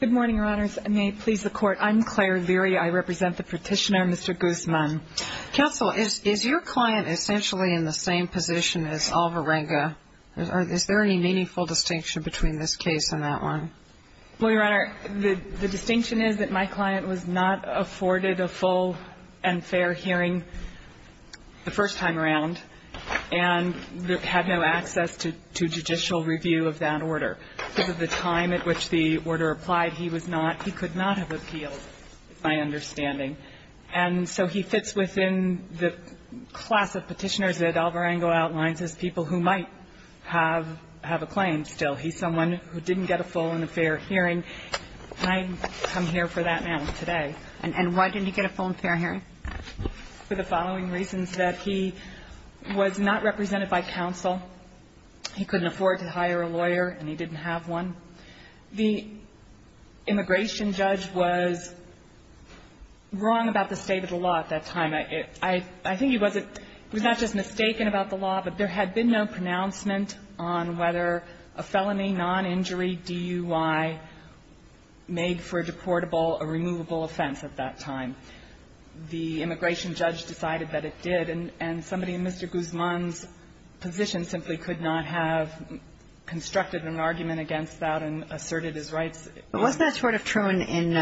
Good morning, Your Honors. May it please the Court, I'm Claire Leary. I represent the Petitioner, Mr. Guzman. Counsel, is your client essentially in the same position as Alvarenga? Is there any meaningful distinction between this case and that one? Well, Your Honor, the distinction is that my client was not afforded a full and fair hearing the first time around and had no access to judicial review of that order. Because of the time at which the order applied, he could not have appealed, is my understanding. And so he fits within the class of petitioners that Alvarenga outlines as people who might have a claim still. He's someone who didn't get a full and a fair hearing. And I come here for that now, today. And why didn't he get a full and fair hearing? For the following reasons that he was not represented by counsel, he couldn't afford to hire a lawyer and he didn't have one. The immigration judge was wrong about the state of the law at that time. I think he wasn't — he was not just mistaken about the law, but there had been no pronouncement on whether a felony noninjury DUI made for a deportable or removable offense at that time. So his position simply could not have constructed an argument against that and asserted his rights. But wasn't that sort of true in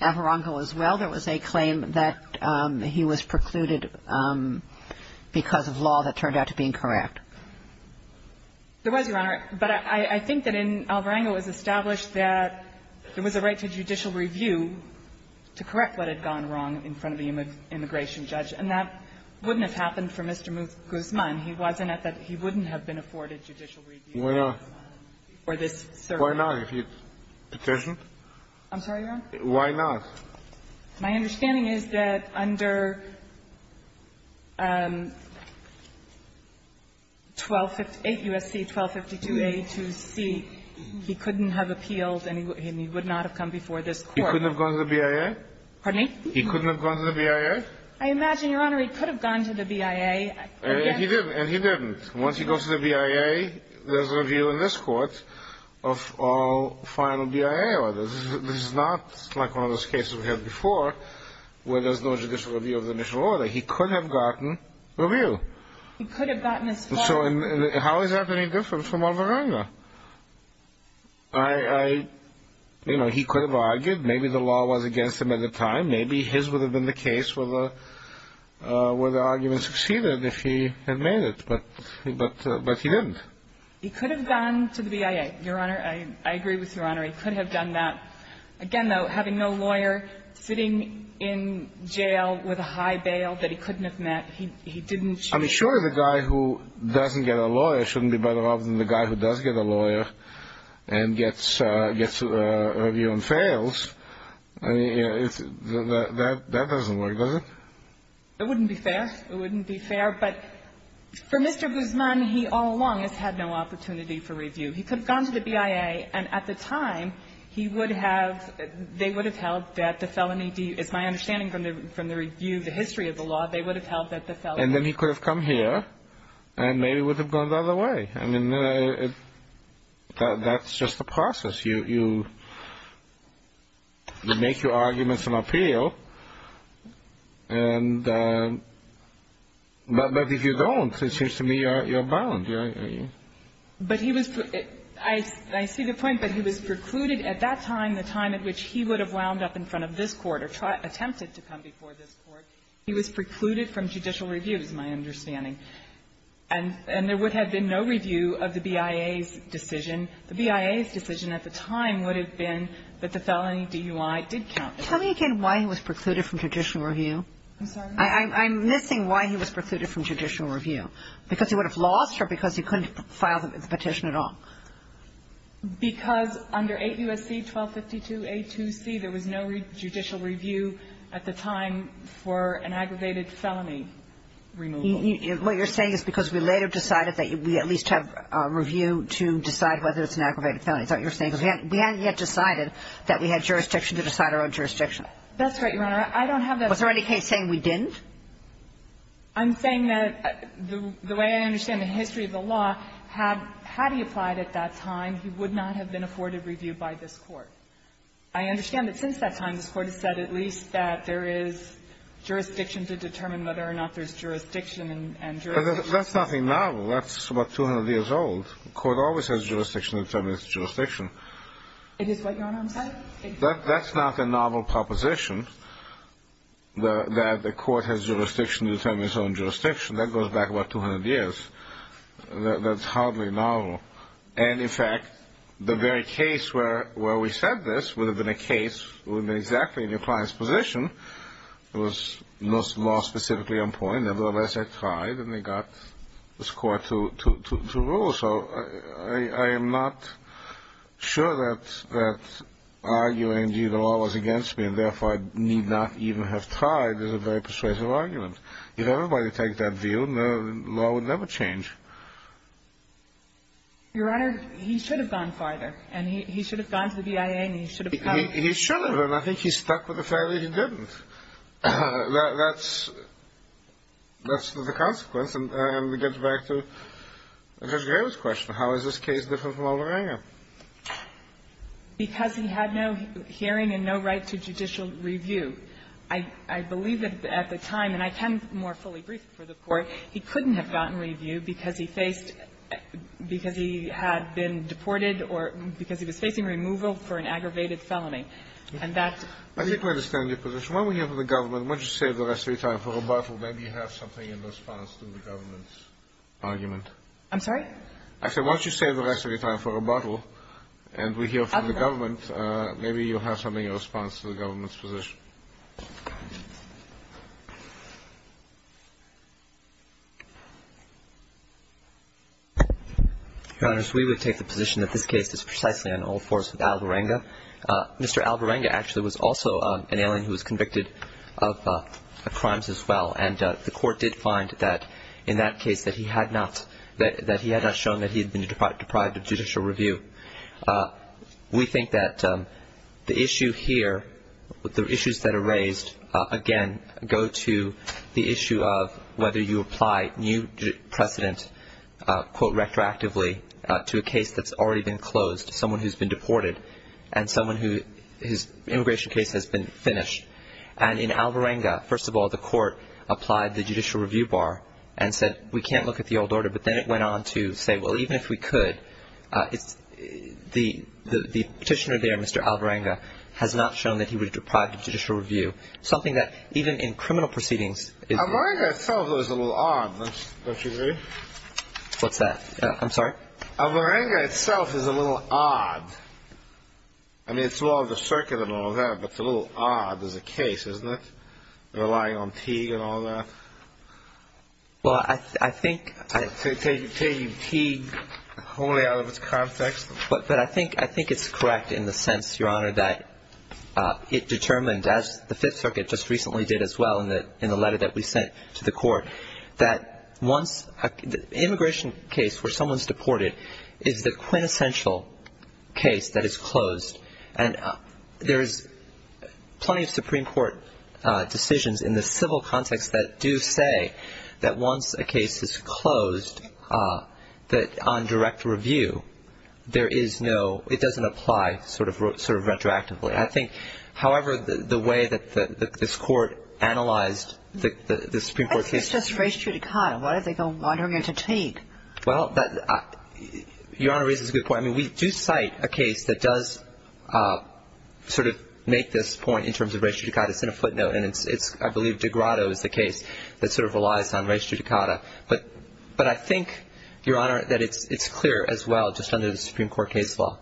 Alvarenga as well? There was a claim that he was precluded because of law that turned out to be incorrect. There was, Your Honor. But I think that in — Alvarenga was established that there was a right to judicial review to correct what had gone wrong in front of the immigration judge. And that wouldn't have happened for Mr. Guzman. He wasn't at that — he wouldn't have been afforded judicial review. Why not? For this service. Why not? If he petitioned? I'm sorry, Your Honor? Why not? My understanding is that under 1258 U.S.C. 1252a to c, he couldn't have appealed and he would not have come before this Court. He couldn't have gone to the BIA? Pardon me? He couldn't have gone to the BIA? I imagine, Your Honor, he could have gone to the BIA. And he didn't. And he didn't. Once he goes to the BIA, there's a review in this Court of all final BIA orders. This is not like one of those cases we had before where there's no judicial review of the initial order. He could have gotten review. He could have gotten as far — So how is that any different from Alvarenga? I — you know, he could have argued. Maybe the law was against him at the time. Maybe his would have been the case where the argument succeeded if he had made it. But he didn't. He could have gone to the BIA, Your Honor. I agree with Your Honor. He could have done that. Again, though, having no lawyer, sitting in jail with a high bail that he couldn't have met. He didn't — I mean, sure, the guy who doesn't get a lawyer shouldn't be better off than the guy who does get a lawyer and gets a review and fails. I mean, that doesn't work, does it? It wouldn't be fair. It wouldn't be fair. But for Mr. Guzman, he all along has had no opportunity for review. He could have gone to the BIA, and at the time, he would have — they would have held that the felony — it's my understanding from the review, the history of the law, they would have held that the felony — And then he could have come here, and maybe it would have gone the other way. I mean, that's just the process. You make your arguments and appeal, and — but if you don't, it seems to me you're bound. But he was — I see the point, but he was precluded at that time, the time at which he would have wound up in front of this court or attempted to come before this court. He was precluded from judicial review, is my understanding. And there would have been no review of the BIA's decision. The BIA's decision at the time would have been that the felony DUI did count. Tell me again why he was precluded from judicial review. I'm sorry? I'm missing why he was precluded from judicial review. Because he would have lost, or because he couldn't file the petition at all? Because under 8 U.S.C. 1252a2c, there was no judicial review at the time for an aggravated felony removal. What you're saying is because we later decided that we at least have a review to decide whether it's an aggravated felony, is that what you're saying? Because we hadn't yet decided that we had jurisdiction to decide our own jurisdiction. That's right, Your Honor. I don't have that. Was there any case saying we didn't? I'm saying that the way I understand the history of the law, had he applied at that time, he would not have been afforded review by this court. I understand that since that time, this Court has said at least that there is jurisdiction to determine whether or not there's jurisdiction and jurisdiction. That's nothing novel. That's about 200 years old. The Court always has jurisdiction to determine its jurisdiction. It is what, Your Honor, I'm saying? That's not a novel proposition, that the Court has jurisdiction to determine its own jurisdiction. That goes back about 200 years. That's hardly novel. And in fact, the very case where we said this would have been a case, would have been exactly in your client's position, it was most law-specifically on point. Nevertheless, I tried, and they got this Court to rule. So I am not sure that arguing, gee, the law was against me, and therefore I need not even have tried, is a very persuasive argument. If everybody takes that view, the law would never change. Your Honor, he should have gone farther. And he should have gone to the BIA, and he should have tried. He should have. And I think he stuck with the failure he didn't. That's the consequence. And we get back to Judge Graham's question. How is this case different from Alderanga? Because he had no hearing and no right to judicial review. I believe that at the time, and I can more fully brief it for the Court, he couldn't have gotten review because he faced — because he had been deported or because he was facing removal for an aggravated felony. And that's the difference. I think I understand your position. Why don't we hear from the government? Why don't you save the rest of your time for rebuttal? Maybe you have something in response to the government's argument. I'm sorry? I said why don't you save the rest of your time for rebuttal, and we hear from the government. Okay. Maybe you have something in response to the government's position. Your Honor, we would take the position that this case is precisely an old force with Alderanga. Mr. Alderanga actually was also an alien who was convicted of crimes as well. And the Court did find that in that case that he had not shown that he had been deprived of judicial review. We think that the issue here, the issues that are raised, again, go to the issue of whether you apply new precedent, quote, retroactively, to a case that's already been closed, someone who's been deported, and someone whose immigration case has been finished. And in Alderanga, first of all, the Court applied the judicial review bar and said we can't look at the old order. But then it went on to say, well, even if we could, the petitioner there, Mr. Alderanga, has not shown that he was deprived of judicial review, something that even in criminal proceedings is... Alderanga itself is a little odd, don't you agree? What's that? I'm sorry? Alderanga itself is a little odd. I mean, it's all the circuit and all that, but it's a little odd as a case, isn't it? Relying on Teague and all that. Well, I think... Taking Teague wholly out of its context? But I think it's correct in the sense, Your Honor, that it determined, as the Fifth Circuit just recently did as well in the letter that we sent to the Court, that once a... Immigration case where someone's deported is the quintessential case that is closed. And there's plenty of Supreme Court decisions in the civil context that do say that once a case is closed, that on direct review, there is no... It doesn't apply sort of retroactively. I think, however, the way that this Court analyzed the Supreme Court case... It's just res judicata. Why did they go wandering into Teague? Well, Your Honor raises a good point. I mean, we do cite a case that does sort of make this point in terms of res judicata. It's in a footnote, and it's, I believe, DeGrado is the case that sort of relies on res judicata. But I think, Your Honor, that it's clear as well, just under the Supreme Court case law,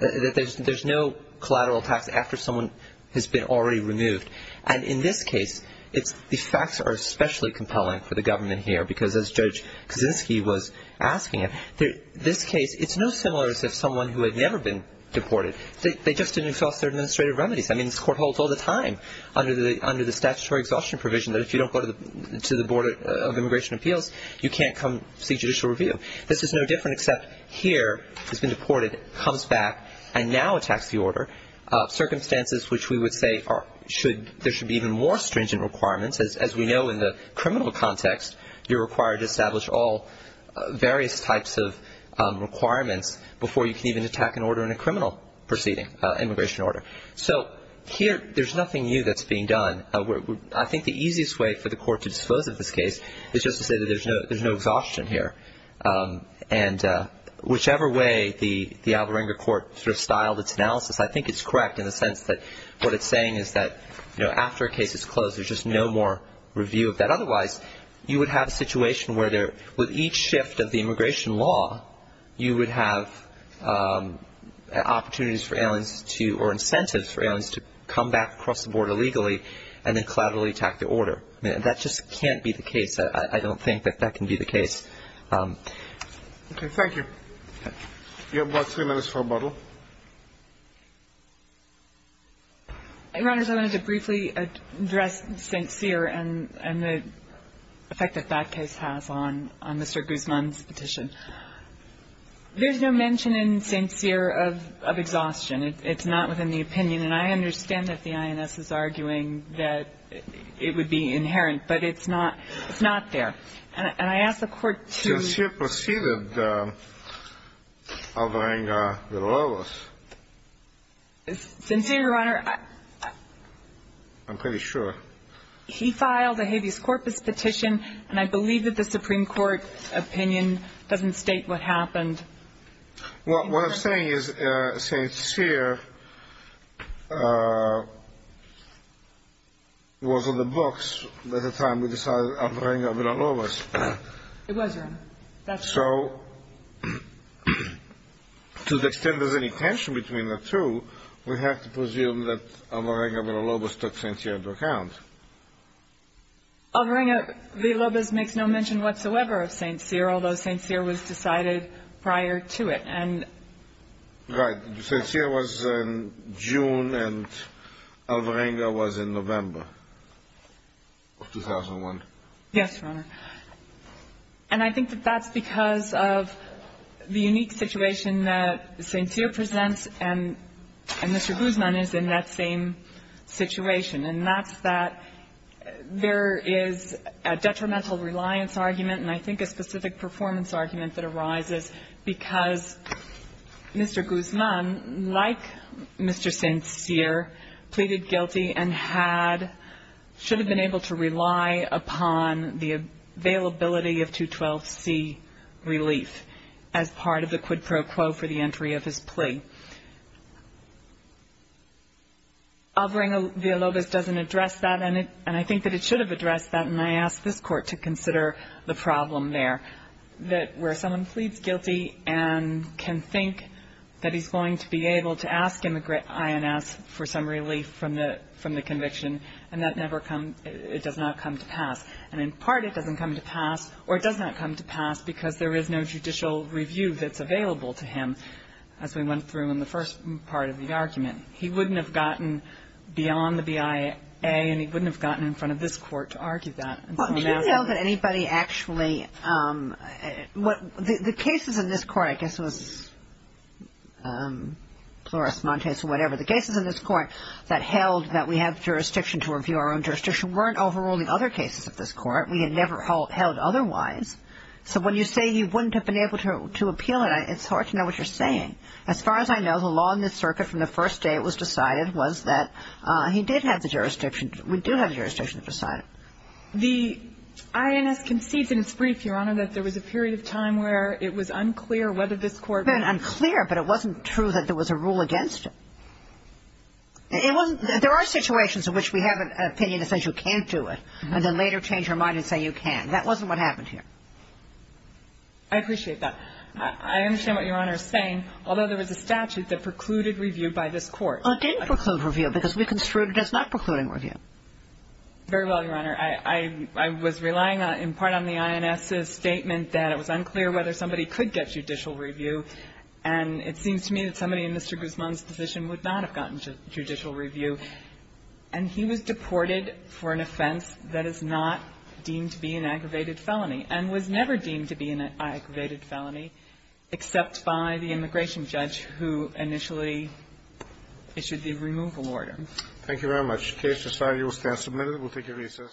that there's no collateral tax after someone has been already removed. And in this case, the facts are especially compelling for the government here, because as Judge Kaczynski was asking it, this case, it's no similar as if someone who had never been deported, they just didn't exhaust their administrative remedies. I mean, this Court holds all the time under the statutory exhaustion provision that if you don't go to the Board of Immigration Appeals, you can't come see judicial review. This is no different, except here, he's been deported, comes back, and now attacks the order. Circumstances which we would say there should be even more stringent requirements. As we know in the criminal context, you're required to establish all various types of requirements before you can even attack an order in a criminal proceeding, immigration order. So here, there's nothing new that's being done. I think the easiest way for the Court to dispose of this case is just to say that there's no exhaustion here. And whichever way the Alvarenga Court sort of styled its analysis, I think it's correct in the sense that what it's saying is that, you know, after a case is closed, there's just no more review of that. Otherwise, you would have a situation where there, with each shift of the immigration law, you would have opportunities for aliens to, or incentives for aliens to come back across the border legally, and then collaterally attack the order. I mean, that just can't be the case. I don't think that that can be the case. Okay, thank you. You have about three minutes for rebuttal. Your Honors, I wanted to briefly address St. Cyr and the effect that that case has on Mr. Guzman's petition. There's no mention in St. Cyr of exhaustion. It's not within the opinion. And I understand that the INS is arguing that it would be inherent, but it's not there. And I ask the Court to… St. Cyr proceeded Alvarenga de Lobos. St. Cyr, Your Honor… I'm pretty sure. He filed a habeas corpus petition, and I believe that the Supreme Court opinion doesn't state what happened. What I'm saying is St. Cyr was on the books by the time we decided Alvarenga de Lobos. It was, Your Honor. So, to the extent there's any tension between the two, we have to presume that Alvarenga de Lobos took St. Cyr into account. Alvarenga de Lobos makes no mention whatsoever of St. Cyr, although St. Cyr was decided prior to it. Right. St. Cyr was in June, and Alvarenga was in November of 2001. Yes, Your Honor. And I think that that's because of the unique situation that St. Cyr presents, and Mr. Guzman is in that same situation. And that's that there is a detrimental reliance argument, and I think a specific performance argument that arises, because Mr. Guzman, like Mr. St. Cyr, pleaded guilty and had… should have been able to rely upon the availability of 212C relief as part of the quid pro quo for the entry of his plea. Alvarenga de Lobos doesn't address that, and I think that it should have addressed that, and I ask this Court to consider the problem there, that where someone pleads guilty and can think that he's going to be able to ask INS for some relief from the conviction, and that never comes… it does not come to pass. And in part, it doesn't come to pass, or it does not come to pass because there is no judicial review that's available to him. And I think it's important to consider, as we went through in the first part of the argument, he wouldn't have gotten beyond the BIA, and he wouldn't have gotten in front of this Court to argue that. Do you know that anybody actually… the cases in this Court, I guess it was Flores-Montez or whatever, the cases in this Court that held that we have jurisdiction to review our own jurisdiction weren't overruled in other cases of this Court. We had never held otherwise. So when you say he wouldn't have been able to appeal it, it's hard to know what you're saying. As far as I know, the law in this Circuit from the first day it was decided was that he did have the jurisdiction. We do have the jurisdiction to decide it. The INS concedes in its brief, Your Honor, that there was a period of time where it was unclear whether this Court… It had been unclear, but it wasn't true that there was a rule against it. There are situations in which we have an opinion that says you can't do it, and then later change your mind and say you can. That wasn't what happened here. I appreciate that. I understand what Your Honor is saying, although there was a statute that precluded review by this Court. Well, it didn't preclude review because we construed it as not precluding review. Very well, Your Honor. I was relying in part on the INS's statement that it was unclear whether somebody could get judicial review, and it seems to me that somebody in Mr. Guzman's position would not have gotten judicial review. And he was deported for an offense that is not deemed to be an aggravated felony and was never deemed to be an aggravated felony except by the immigration judge who initially issued the removal order. Thank you very much. Case decided. You will stand submitted. We'll take your recess.